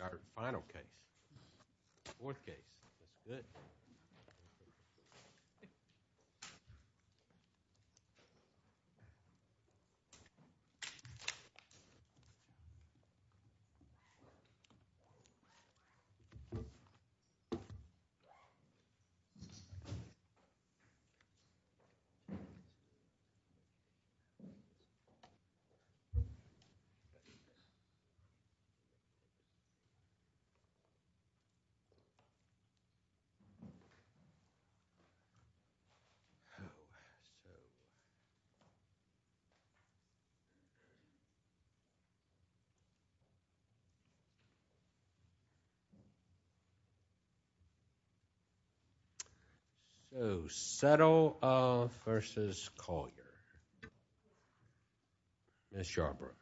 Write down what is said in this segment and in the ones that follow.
Our final case, fourth case, that's it. So Settle v. Collier, Ms. Sharbrooke.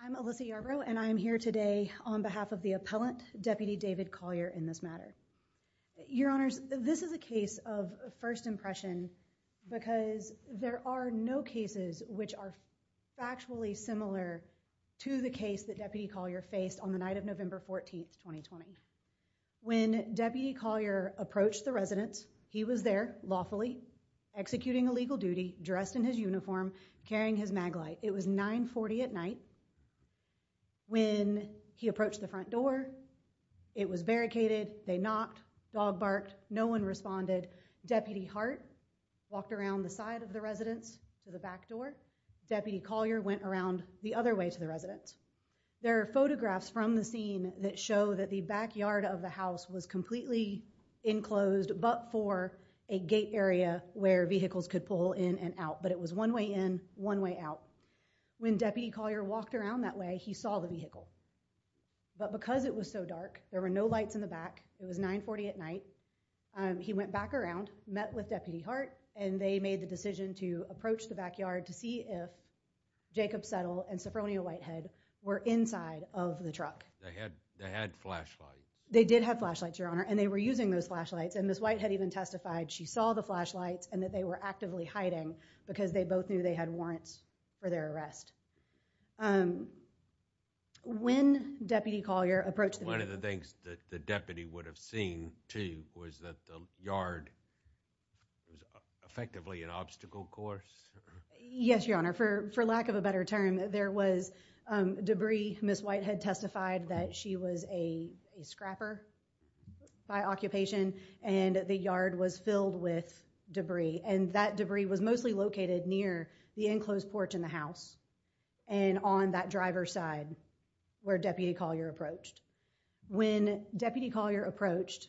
I'm Alyssa Yarbrough, and I am here today on behalf of the appellant, Deputy David Collier, in this matter. Your Honors, this is a case of first impression because there are no cases which are factually similar to the case that Deputy Collier faced on the night of November 14th, 2020. When Deputy Collier approached the residence, he was there, lawfully, executing a legal duty, dressed in his uniform, carrying his maglite. It was 940 at night. When he approached the front door, it was barricaded, they knocked, the dog barked, no one responded. Deputy Hart walked around the side of the residence to the back door. Deputy Collier went around the other way to the residence. There are photographs from the scene that show that the backyard of the house was completely enclosed but for a gate area where vehicles could pull in and out. But it was one way in, one way out. When Deputy Collier walked around that way, he saw the vehicle. But because it was so dark, there were no lights in the back, it was 940 at night, he went back around, met with Deputy Hart, and they made the decision to approach the backyard to see if Jacob Settle and Sofronia Whitehead were inside of the truck. They had flashlights. They did have flashlights, Your Honor, and they were using those flashlights, and this Whitehead even testified she saw the flashlights and that they were actively hiding because they both knew they had warrants for their arrest. When Deputy Collier approached the vehicle... One of the things that the deputy would have seen, too, was that the yard was effectively an obstacle course. Yes, Your Honor. For lack of a better term, there was debris. Ms. Whitehead testified that she was a scrapper by occupation and the yard was filled with debris, and that debris was mostly located near the enclosed porch in the house and on that driver's side where Deputy Collier approached. When Deputy Collier approached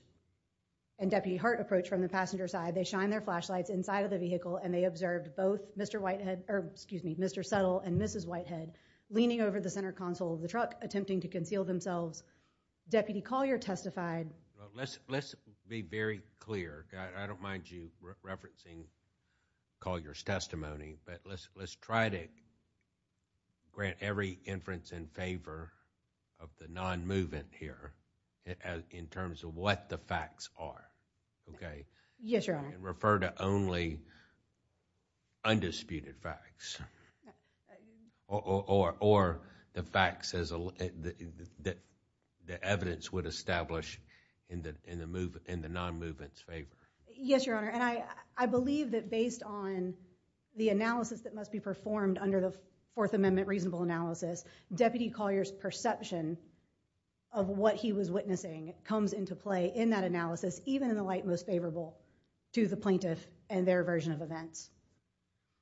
and Deputy Hart approached from the passenger side, they found their flashlights inside of the vehicle, and they observed Mr. Settle and Mrs. Whitehead leaning over the center console of the truck, attempting to conceal themselves. Deputy Collier testified... Let's be very clear. I don't mind you referencing Collier's testimony, but let's try to grant every inference in favor of the non-movement here in terms of what the facts are. Yes, Your Honor. Refer to only undisputed facts, or the facts that the evidence would establish in the non-movement's Yes, Your Honor. I believe that based on the analysis that must be performed under the Fourth Amendment reasonable analysis, Deputy Collier's perception of what he was witnessing comes into play in that analysis, even in the light most favorable to the plaintiff and their version of events.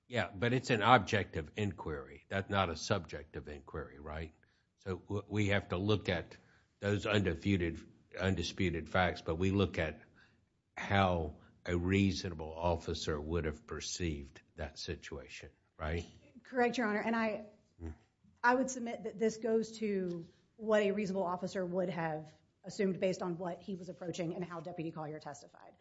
Yes, but it's an object of inquiry. That's not a subject of inquiry, right? We have to look at those undisputed facts, but we look at how a reasonable officer would have perceived that situation, right? Correct, Your Honor, and I would submit that this goes to what a reasonable officer would have assumed based on what he was approaching and how Deputy Collier testified,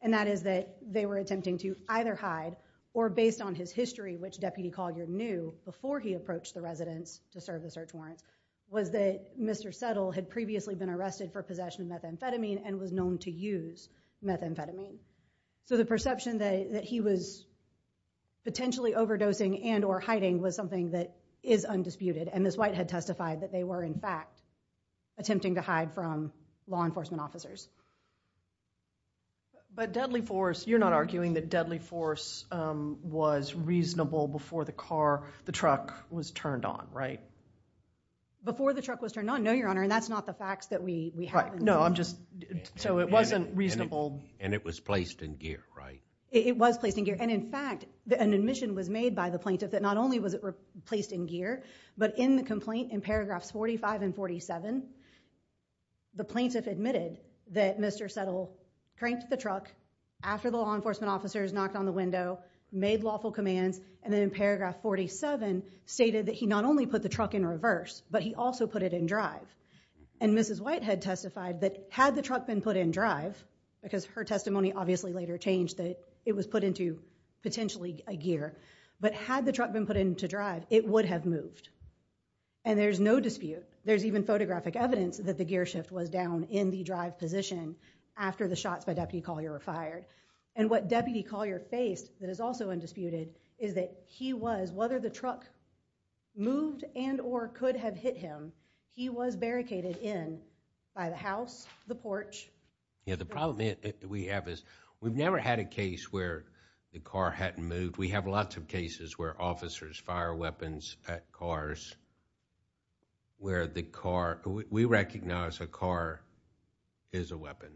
and that is that they were attempting to either hide, or based on his history, which Deputy Collier knew before he approached the residence to serve the search warrants, was that Mr. Settle had previously been arrested for possession of methamphetamine and was known to use methamphetamine, so the perception that he was potentially overdosing and or hiding was something that is undisputed, and this Whitehead testified that they were, in fact, attempting to hide from law enforcement officers. But deadly force, you're not arguing that deadly force was reasonable before the car, the truck, was turned on, right? Before the truck was turned on, no, Your Honor, and that's not the facts that we have. Right, no, I'm just, so it wasn't reasonable. And it was placed in gear, right? It was placed in gear, and in fact, an admission was made by the plaintiff that not only was it placed in gear, but in the complaint, in paragraphs 45 and 47, the plaintiff admitted that Mr. Settle cranked the truck after the law enforcement officers knocked on the window, made lawful commands, and then in paragraph 47, stated that he not only put the truck in reverse, but he also put it in drive. And Mrs. Whitehead testified that had the truck been put in drive, because her testimony obviously later changed that it was put into potentially a gear, but had the truck been put into drive, it would have moved. And there's no dispute. There's even photographic evidence that the gear shift was down in the drive position after the shots by Deputy Collier were fired. And what Deputy Collier faced that is also undisputed is that he was, whether the truck moved and or could have hit him, he was barricaded in by the house, the porch. Yeah, the problem that we have is we've never had a case where the car hadn't moved. We have lots of cases where officers fire weapons at cars, where the car, we recognize a car is a weapon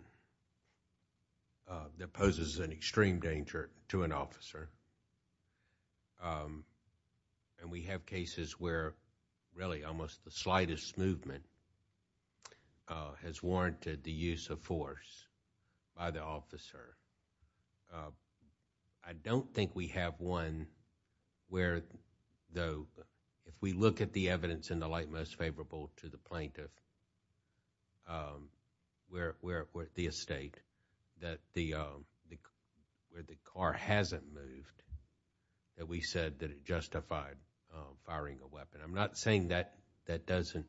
that poses an extreme danger to an officer, and we have cases where really almost the slightest movement has warranted the use of force by the officer. I don't think we have one where, though, if we look at the evidence in the light most favorable to the plaintiff, where the estate, that the, where the car hasn't moved, that we said that it justified firing a weapon. I'm not saying that that doesn't,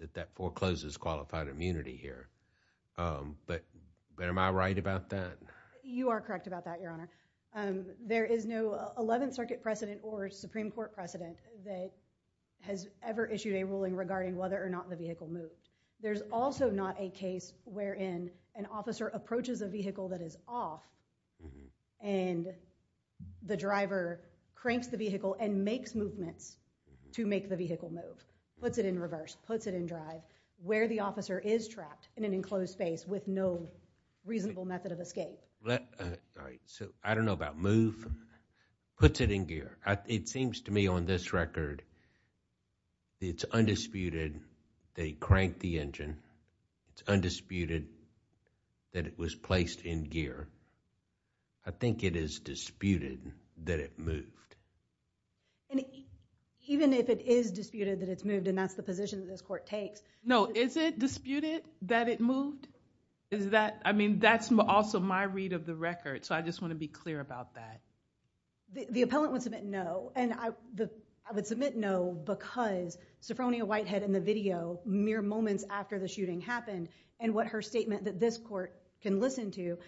that that forecloses qualified immunity here. But am I right about that? You are correct about that, Your Honor. There is no 11th Circuit precedent or Supreme Court precedent that has ever issued a ruling regarding whether or not the vehicle moved. There's also not a case wherein an officer approaches a vehicle that is off and the driver cranks the vehicle and makes movements to make the vehicle move, puts it in reverse, puts it in drive, where the officer is trapped in an enclosed space with no reasonable method of escape. All right. So I don't know about move. Puts it in gear. It seems to me on this record, it's undisputed that he cranked the engine. It's undisputed that it was placed in gear. I think it is disputed that it moved. And even if it is disputed that it's moved and that's the position that this court takes. No. Is it disputed that it moved? Is that, I mean, that's also my read of the record, so I just want to be clear about that. The appellant would submit no. And I would submit no because Sephronia Whitehead in the video mere moments after the shooting happened and what her statement that this court can listen to...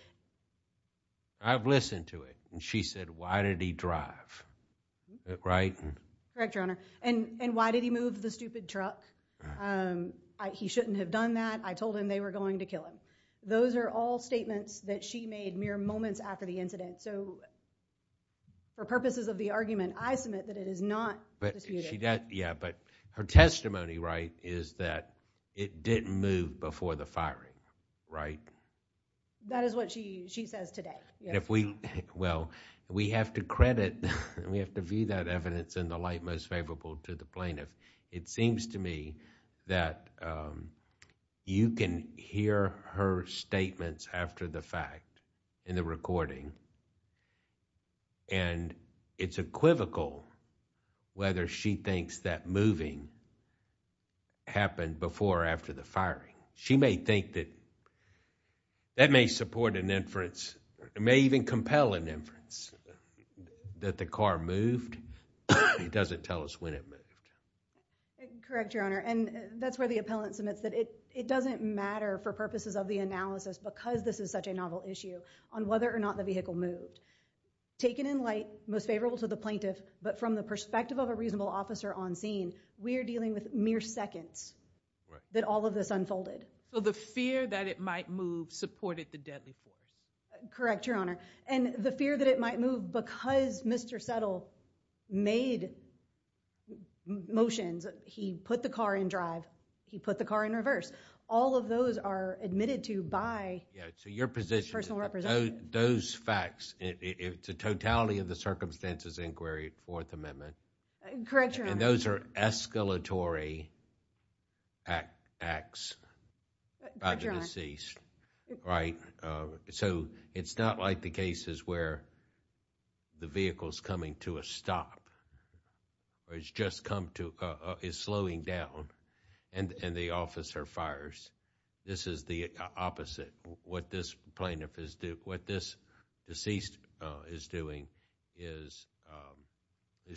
I've listened to it. And she said, why did he drive? Correct, Your Honor. And why did he move the stupid truck? He shouldn't have done that. I told him they were going to kill him. Those are all statements that she made mere moments after the incident. So for purposes of the argument, I submit that it is not disputed. Yeah, but her testimony, right, is that it didn't move before the firing, right? That is what she says today. If we... well, we have to credit, we have to view that evidence in the light most favorable to the plaintiff. It seems to me that you can hear her statements after the fact in the recording and it's equivocal whether she thinks that moving happened before or after the firing. She may think that that may support an inference, may even compel an inference that the car moved. It doesn't tell us when it moved. Correct, Your Honor. And that's where the appellant submits that it doesn't matter for purposes of the analysis because this is such a novel issue on whether or not the vehicle moved. Taken in light, most favorable to the plaintiff, but from the perspective of a reasonable officer on scene, we are dealing with mere seconds that all of this unfolded. So the fear that it might move supported the deadly force? Correct, Your Honor. And the fear that it might move because Mr. Settle made motions, he put the car in drive, he put the car in reverse, all of those are admitted to by... Yeah, so your position is that those facts, it's a totality of the circumstances inquiry Fourth Amendment. Correct, Your Honor. And those are escalatory acts by the deceased, right? So it's not like the cases where the vehicle's coming to a stop or it's just come to, it's slowing down and the officer fires. This is the opposite. What this plaintiff is doing, what this deceased is doing is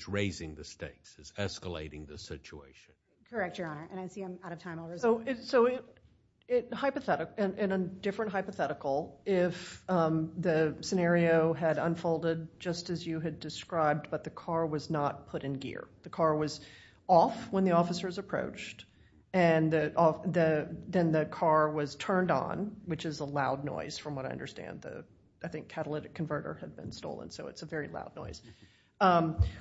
raising the stakes, is escalating the situation. Correct, Your Honor. And I see I'm out of time. So in a different hypothetical, if the scenario had unfolded just as you had described, but the car was not put in gear. The car was off when the officers approached, and then the car was turned on, which is a loud noise from what I understand. I think catalytic converter had been stolen, so it's a very loud noise.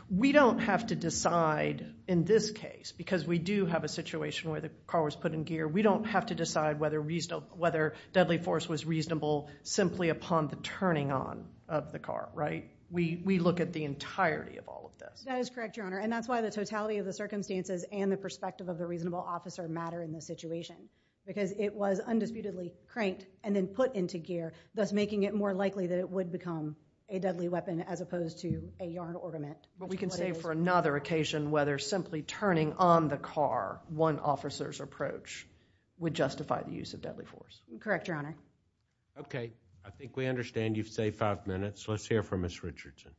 We don't have to decide in this case, because we do have a situation where the car was put in gear, we don't have to decide whether deadly force was reasonable simply upon the turning on of the car, right? We look at the entirety of all of this. That is correct, Your Honor. And that's why the totality of the circumstances and the perspective of the reasonable officer matter in this situation. Because it was undisputedly cranked and then put into gear, thus making it more likely that it would become a deadly weapon as opposed to a yarn ornament. But we can say for another occasion whether simply turning on the car, one officer's approach, would justify the use of deadly force. Correct, Your Honor. Okay. I think we understand you've saved five minutes. Let's hear from Ms. Richardson.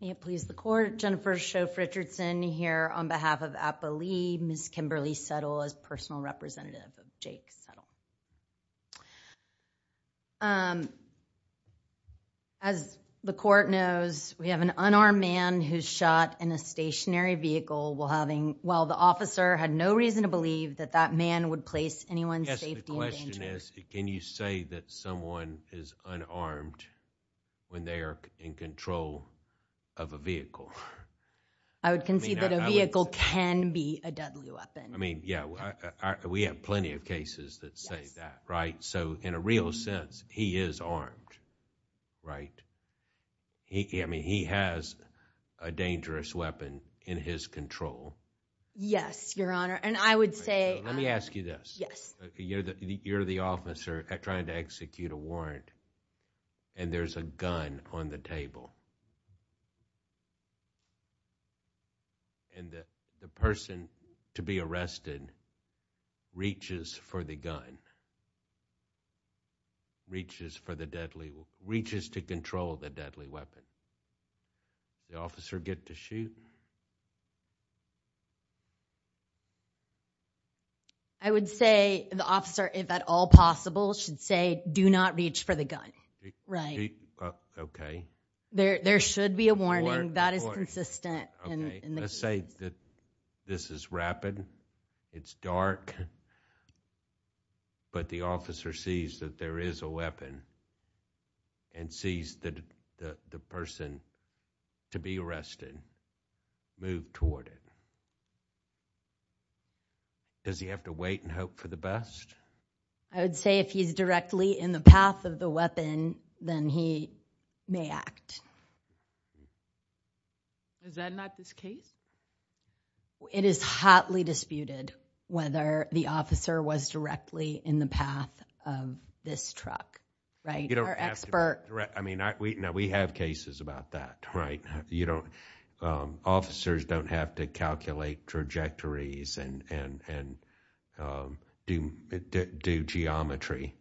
May it please the court, Jennifer Shoff Richardson here on behalf of Apo Lee, Ms. Kimberly Settle as personal representative of Jake Settle. As the court knows, we have an unarmed man who's shot in a stationary vehicle while the officer had no reason to believe that that man would place anyone's safety in danger. My question is, can you say that someone is unarmed when they are in control of a vehicle? I would concede that a vehicle can be a deadly weapon. I mean, yeah. We have plenty of cases that say that, right? So in a real sense, he is armed, right? He has a dangerous weapon in his control. Yes, Your Honor. And I would say... Let me ask you this. Yes. You're the officer trying to execute a warrant and there's a gun on the table and the person to be arrested reaches for the gun, reaches to control the deadly weapon. The officer gets to shoot. I would say the officer, if at all possible, should say, do not reach for the gun. Right. Okay. There should be a warning. That is consistent. Let's say that this is rapid, it's dark, but the officer sees that there is a weapon and sees the person to be arrested move toward it. Does he have to wait and hope for the best? I would say if he's directly in the path of the weapon, then he may act. Is that not this case? It is hotly disputed whether the officer was directly in the path of this truck, right? You don't have to... Now, we have cases about that, right? Officers don't have to calculate trajectories and do geometry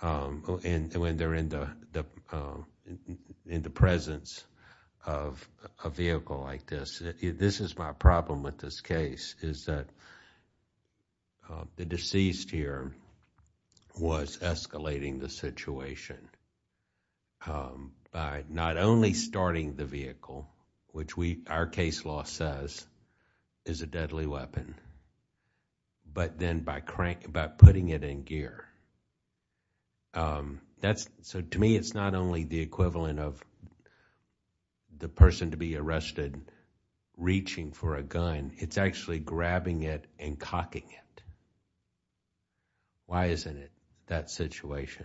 when they're in the presence of a vehicle like this. This is my problem with this case. The deceased here was escalating the situation by not only starting the vehicle, which our case law says is a deadly weapon, but then by putting it in gear. To me, it's not only the equivalent of the person to be arrested reaching for a gun. It's actually grabbing it and cocking it. Why isn't it that situation?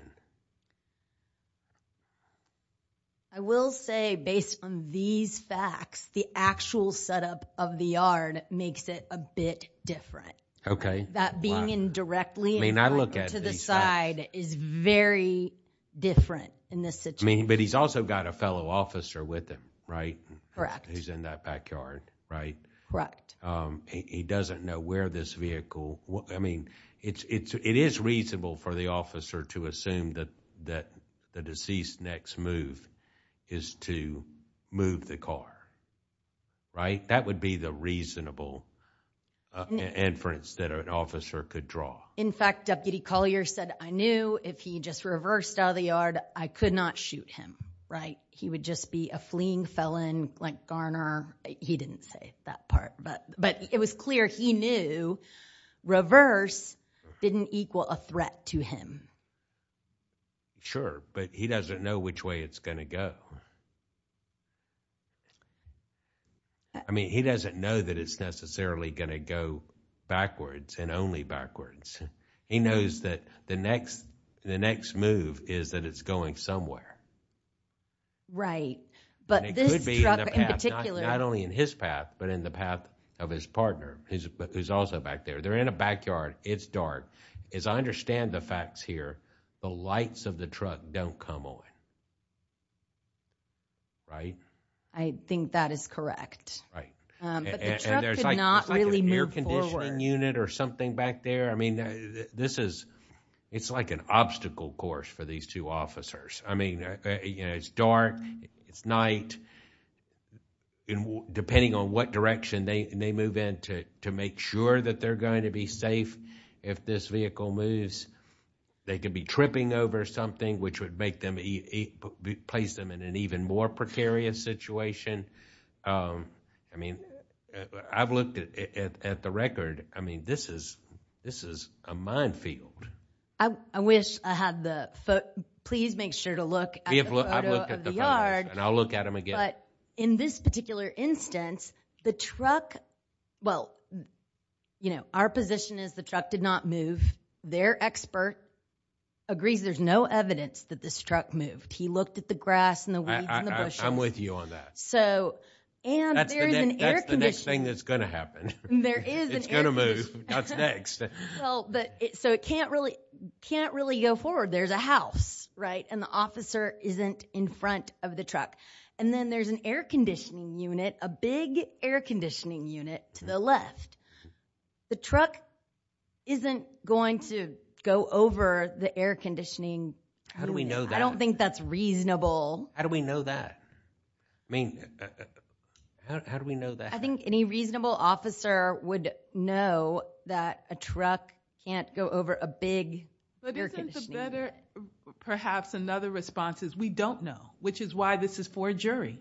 I will say, based on these facts, the actual setup of the yard makes it a bit different. Okay. That being indirectly to the side is very different in this situation. But he's also got a fellow officer with him, right? Who's in that backyard, right? Correct. He doesn't know where this vehicle... I mean, it is reasonable for the officer to assume that the deceased's next move is to move the car, right? That would be the reasonable inference that an officer could draw. In fact, Deputy Collier said, I knew if he just reversed out of the yard, I could not shoot him, right? He would just be a fleeing felon, like Garner. He didn't say that part, but it was clear he knew reverse didn't equal a threat to him. Sure, but he doesn't know which way it's going to go. I mean, he doesn't know that it's necessarily going to go backwards and only backwards. He knows that the next move is that it's going somewhere. Right, but this truck in particular... Not only in his path, but in the path of his partner, who's also back there. They're in a backyard. It's dark. As I understand the facts here, the lights of the truck don't come on, right? I think that is correct, but the truck could not really move forward. And there's like an air conditioning unit or something back there. I mean, this is... it's like an obstacle course for these two officers. I mean, it's dark, it's night, and depending on what direction they move in to make sure that they're going to be safe if this vehicle moves, they could be tripping over something, which would place them in an even more precarious situation. I mean, I've looked at the record. I mean, this is a minefield. I wish I had the... please make sure to look at the photo of the yard, but in this particular instance, the truck... well, you know, our position is the truck did not move. Their expert agrees there's no evidence that this truck moved. He looked at the grass and the weeds and the bushes. I'm with you on that. That's the next thing that's going to happen. There is an air conditioning. It's going to move. That's next. Well, so it can't really go forward. There's a house, right, and the officer isn't in front of the truck. And then there's an air conditioning unit, a big air conditioning unit to the left. The truck isn't going to go over the air conditioning unit. How do we know that? I don't think that's reasonable. How do we know that? I mean, how do we know that? I think any reasonable officer would know that a truck can't go over a big air conditioning... But isn't the better... perhaps another response is we don't know, which is why this is for a jury.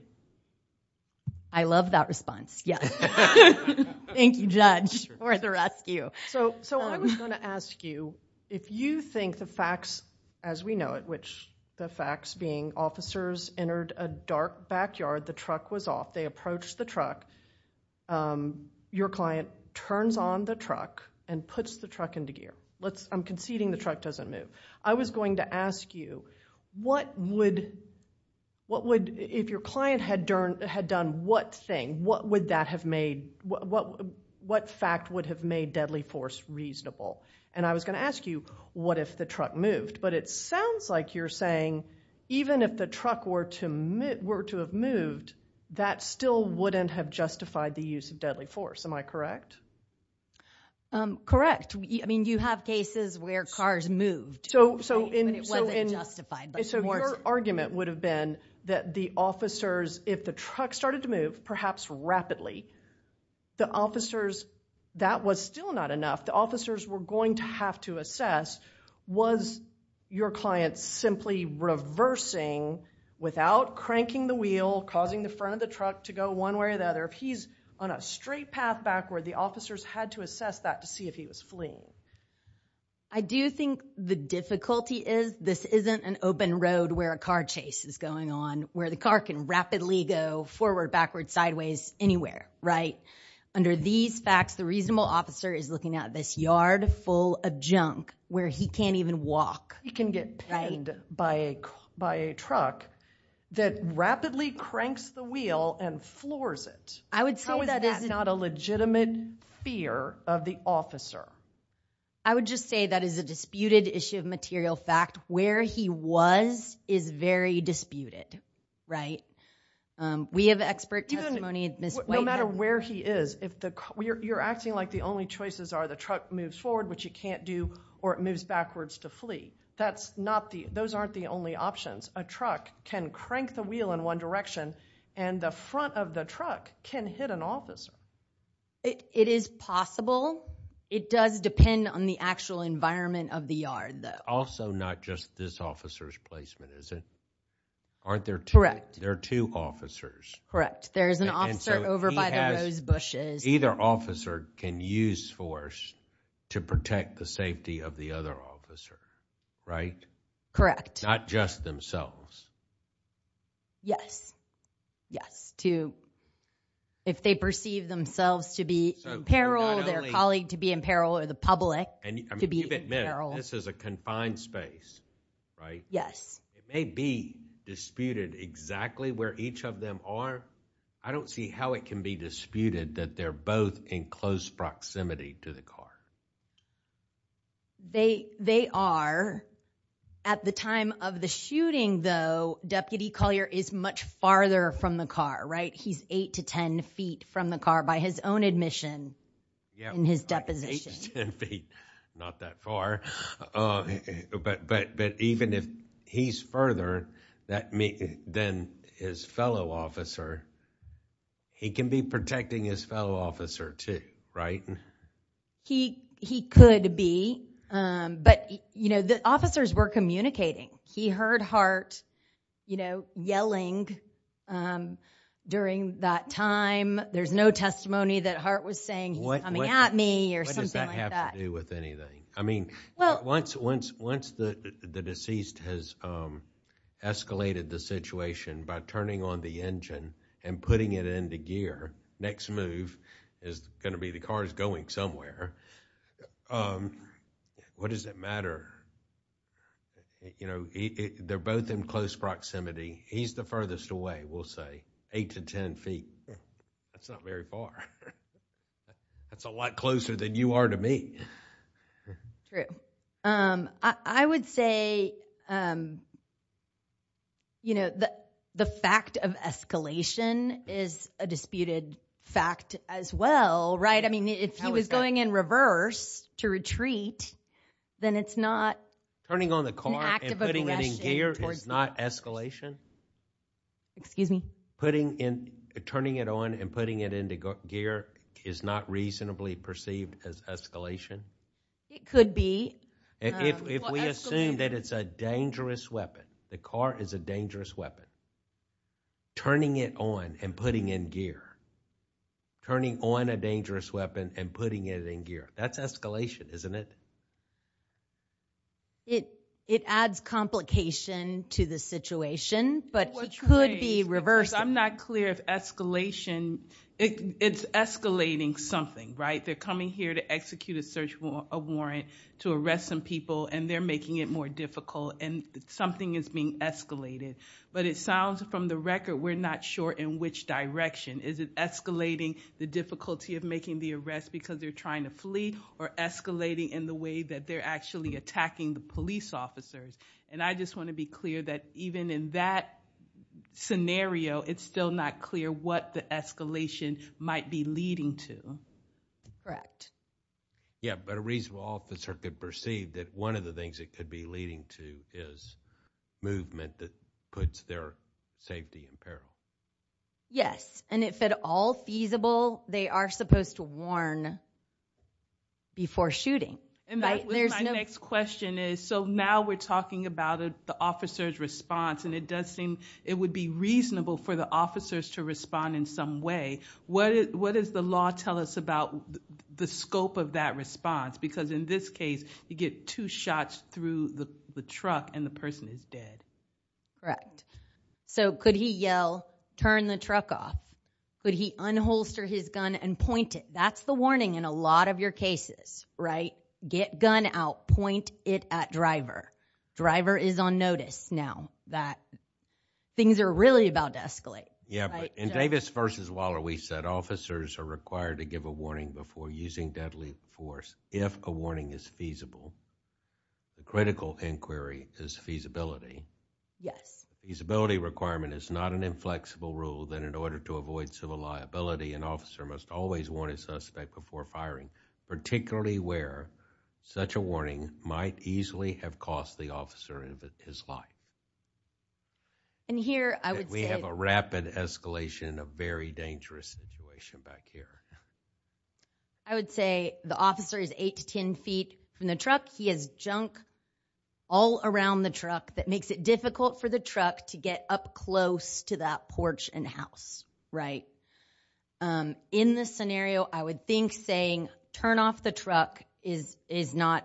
I love that response. Yes. Thank you, Judge, for the rescue. So I was going to ask you, if you think the facts as we know it, which the facts being officers entered a dark backyard, the truck was off, they approached the truck. Your client turns on the truck and puts the truck into gear. I'm conceding the truck doesn't move. I was going to ask you, what would... if your client had done what thing, what would that have made... what fact would have made deadly force reasonable? And I was going to ask you, what if the truck moved? But it sounds like you're saying, even if the truck were to have moved, that still wouldn't have justified the use of deadly force. Am I correct? Correct. I mean, you have cases where cars moved, but it wasn't justified. So your argument would have been that the officers... if the truck started to move, perhaps rapidly, the officers... that was still not enough. The officers were going to have to assess, was your client simply reversing without cranking the wheel, causing the front of the truck to go one way or the other? If he's on a straight path backward, the officers had to assess that to see if he was fleeing. I do think the difficulty is, this isn't an open road where a car chase is going on, where the car can rapidly go forward, backward, sideways, anywhere, right? Under these facts, the reasonable officer is looking at this yard full of junk, where he can't even walk. He can get pinned by a truck that rapidly cranks the wheel and floors it. I would say that is... How is that not a legitimate fear of the officer? I would just say that is a disputed issue of material fact. Where he was is very disputed, right? We have expert testimony... No matter where he is, if the... you're acting like the only choices are the truck moves forward, which he can't do, or it moves backwards to flee. Those aren't the only options. A truck can crank the wheel in one direction, and the front of the truck can hit an officer. It is possible. It does depend on the actual environment of the yard, though. Also not just this officer's placement, is it? Correct. There are two officers. Correct. There's an officer over by the rose bushes. Either officer can use force to protect the safety of the other officer, right? Correct. Not just themselves. Yes. Yes. If they perceive themselves to be in peril, their colleague to be in peril, or the public to be in peril. I mean, give it a minute. This is a confined space, right? Yes. It may be disputed exactly where each of them are. I don't see how it can be disputed that they're both in close proximity to the car. They are. At the time of the shooting, though, Deputy Collier is much farther from the car, right? He's eight to ten feet from the car, by his own admission, in his deposition. Eight to ten feet. Not that far. But even if he's further than his fellow officer, he can be protecting his fellow officer, too, right? He could be, but the officers were communicating. He heard Hart yelling during that time. There's no testimony that Hart was saying, he's coming at me, or something like that. What does that have to do with anything? I mean, once the deceased has escalated the situation by turning on the engine and putting it into gear, next move is going to be the car is going somewhere. What does it matter? They're both in close proximity. He's the furthest away, we'll say. Eight to ten feet. That's not very far. That's a lot closer than you are to me. True. I would say, you know, the fact of escalation is a disputed fact, as well, right? I mean, if he was going in reverse to retreat, then it's not an act of aggression towards the officers. Turning on the car and putting it in gear is not escalation? Excuse me? Turning it on and putting it into gear is not reasonably perceived as escalation? It could be. If we assume that it's a dangerous weapon, the car is a dangerous weapon, turning it on and putting it in gear, turning on a dangerous weapon and putting it in gear, that's escalation, isn't it? It adds complication to the situation, but it could be reversed. I'm not clear if escalation, it's escalating something, right? They're coming here to execute a search warrant, to arrest some people, and they're making it more difficult, and something is being escalated. But it sounds, from the record, we're not sure in which direction. Is it escalating the difficulty of making the arrest because they're trying to flee, or escalating in the way that they're actually attacking the police officers? And I just want to be clear that even in that scenario, it's still not clear what the escalation might be leading to. Correct. Yeah, but a reasonable officer could perceive that one of the things it could be leading to is movement that puts their safety in peril. Yes. And if at all feasible, they are supposed to warn before shooting, right? My next question is, so now we're talking about the officer's response, and it does seem it would be reasonable for the officers to respond in some way. What does the law tell us about the scope of that response? Because in this case, you get two shots through the truck, and the person is dead. Correct. So could he yell, turn the truck off? Could he unholster his gun and point it? That's the warning in a lot of your cases, right? Get gun out, point it at driver. Driver is on notice now that things are really about to escalate. Yeah, but in Davis v. Waller, we said officers are required to give a warning before using deadly force if a warning is feasible. The critical inquiry is feasibility. Yes. If the feasibility requirement is not an inflexible rule, then in order to avoid civil liability, an officer must always warn a suspect before firing, particularly where such a warning might easily have cost the officer his life. And here, I would say- We have a rapid escalation, a very dangerous situation back here. I would say the officer is eight to 10 feet from the truck, he has junk all around the truck, that makes it difficult for the truck to get up close to that porch and house, right? In this scenario, I would think saying, turn off the truck, is not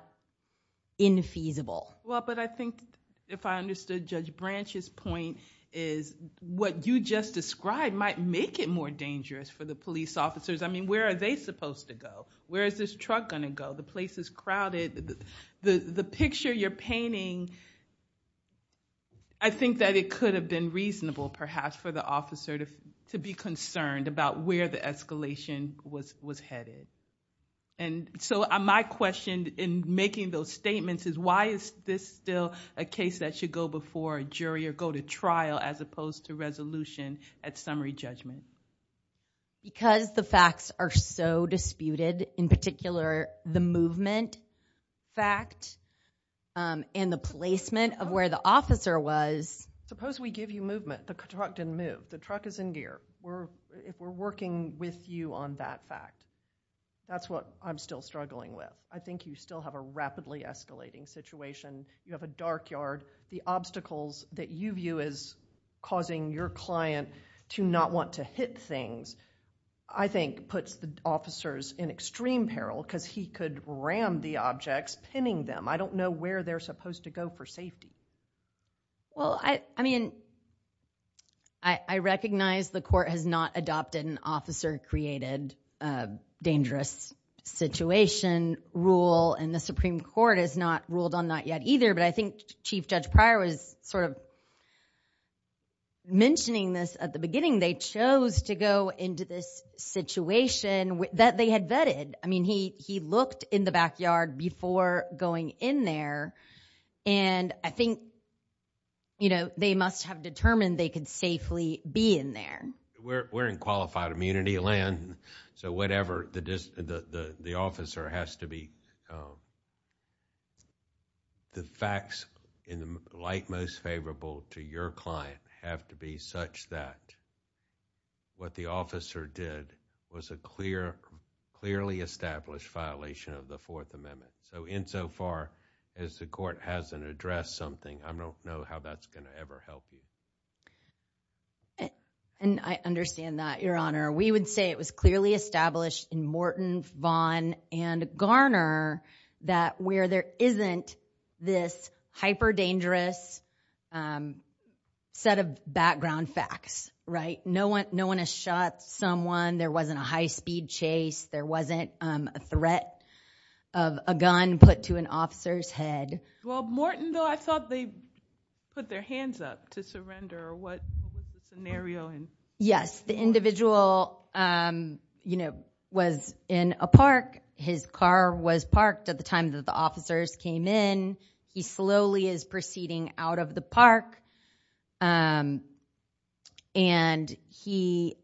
infeasible. Well, but I think, if I understood Judge Branch's point, is what you just described might make it more dangerous for the police officers. I mean, where are they supposed to go? Where is this truck going to go? The place is crowded. The picture you're painting, I think that it could have been reasonable, perhaps, for the officer to be concerned about where the escalation was headed. And so, my question in making those statements is, why is this still a case that should go before a jury or go to trial, as opposed to resolution at summary judgment? Because the facts are so disputed, in particular, the movement fact, and the placement of where the officer was. Suppose we give you movement, the truck didn't move, the truck is in gear, if we're working with you on that fact, that's what I'm still struggling with. I think you still have a rapidly escalating situation, you have a dark yard, the obstacles that you view as causing your client to not want to hit things, I think, puts the officers in extreme peril, because he could ram the objects, pinning them. I don't know where they're supposed to go for safety. Well, I mean, I recognize the court has not adopted an officer created dangerous situation rule, and the Supreme Court has not ruled on that yet either, but I think Chief Judge Pryor was sort of mentioning this at the beginning, they chose to go into this situation that they had vetted. I mean, he looked in the backyard before going in there, and I think, you know, they must have determined they could safely be in there. We're in qualified immunity land, so whatever, the officer has to be... the facts, like most favorable to your client, have to be such that what the officer did was a clearly established violation of the Fourth Amendment. In so far, as the court hasn't addressed something, I don't know how that's going to ever help you. And I understand that, Your Honor. We would say it was clearly established in Morton, Vaughn, and Garner that where there isn't this hyper-dangerous set of background facts, right? No one has shot someone, there wasn't a high-speed chase, there wasn't a threat of a gun put to an officer's head. Well, Morton, though, I thought they put their hands up to surrender, or what was the scenario? Yes, the individual, you know, was in a park, his car was parked at the time that the officers came in, he slowly is proceeding out of the park, and he...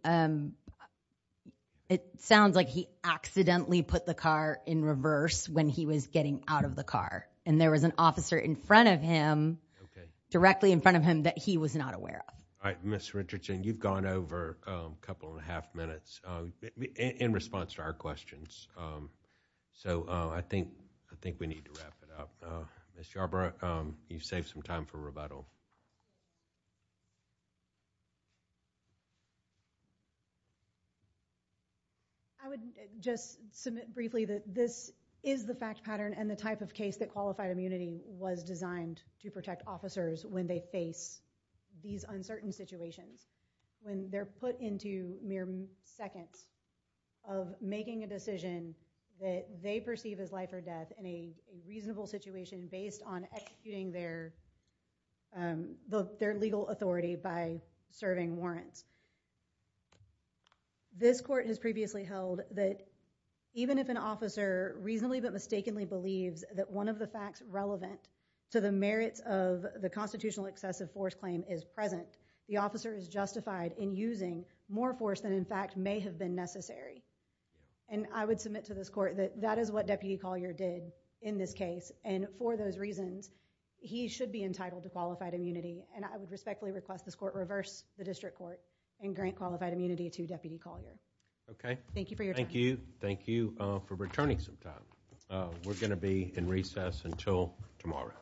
it sounds like he accidentally put the car in reverse when he was getting out of the car. And there was an officer in front of him, directly in front of him, that he was not aware of. All right, Ms. Richardson, you've gone over a couple and a half minutes in response to our questions. So, I think we need to wrap it up. Ms. Yarbrough, you've saved some time for rebuttal. I would just submit briefly that this is the fact pattern and the type of case that qualified immunity was designed to protect officers when they face these uncertain situations, when they're put into mere seconds of making a decision that they perceive as life or death in a reasonable situation based on executing their legal authority by serving warrants. This court has previously held that even if an officer reasonably but mistakenly believes that one of the facts relevant to the merits of the constitutional excessive force claim is present, the officer is justified in using more force than, in fact, may have been necessary. And I would submit to this court that that is what Deputy Collier did in this case. And for those reasons, he should be entitled to qualified immunity. And I would respectfully request this court reverse the district court and grant qualified immunity to Deputy Collier. Okay. Thank you for your time. Thank you. Thank you for returning some time. We're going to be in recess until tomorrow.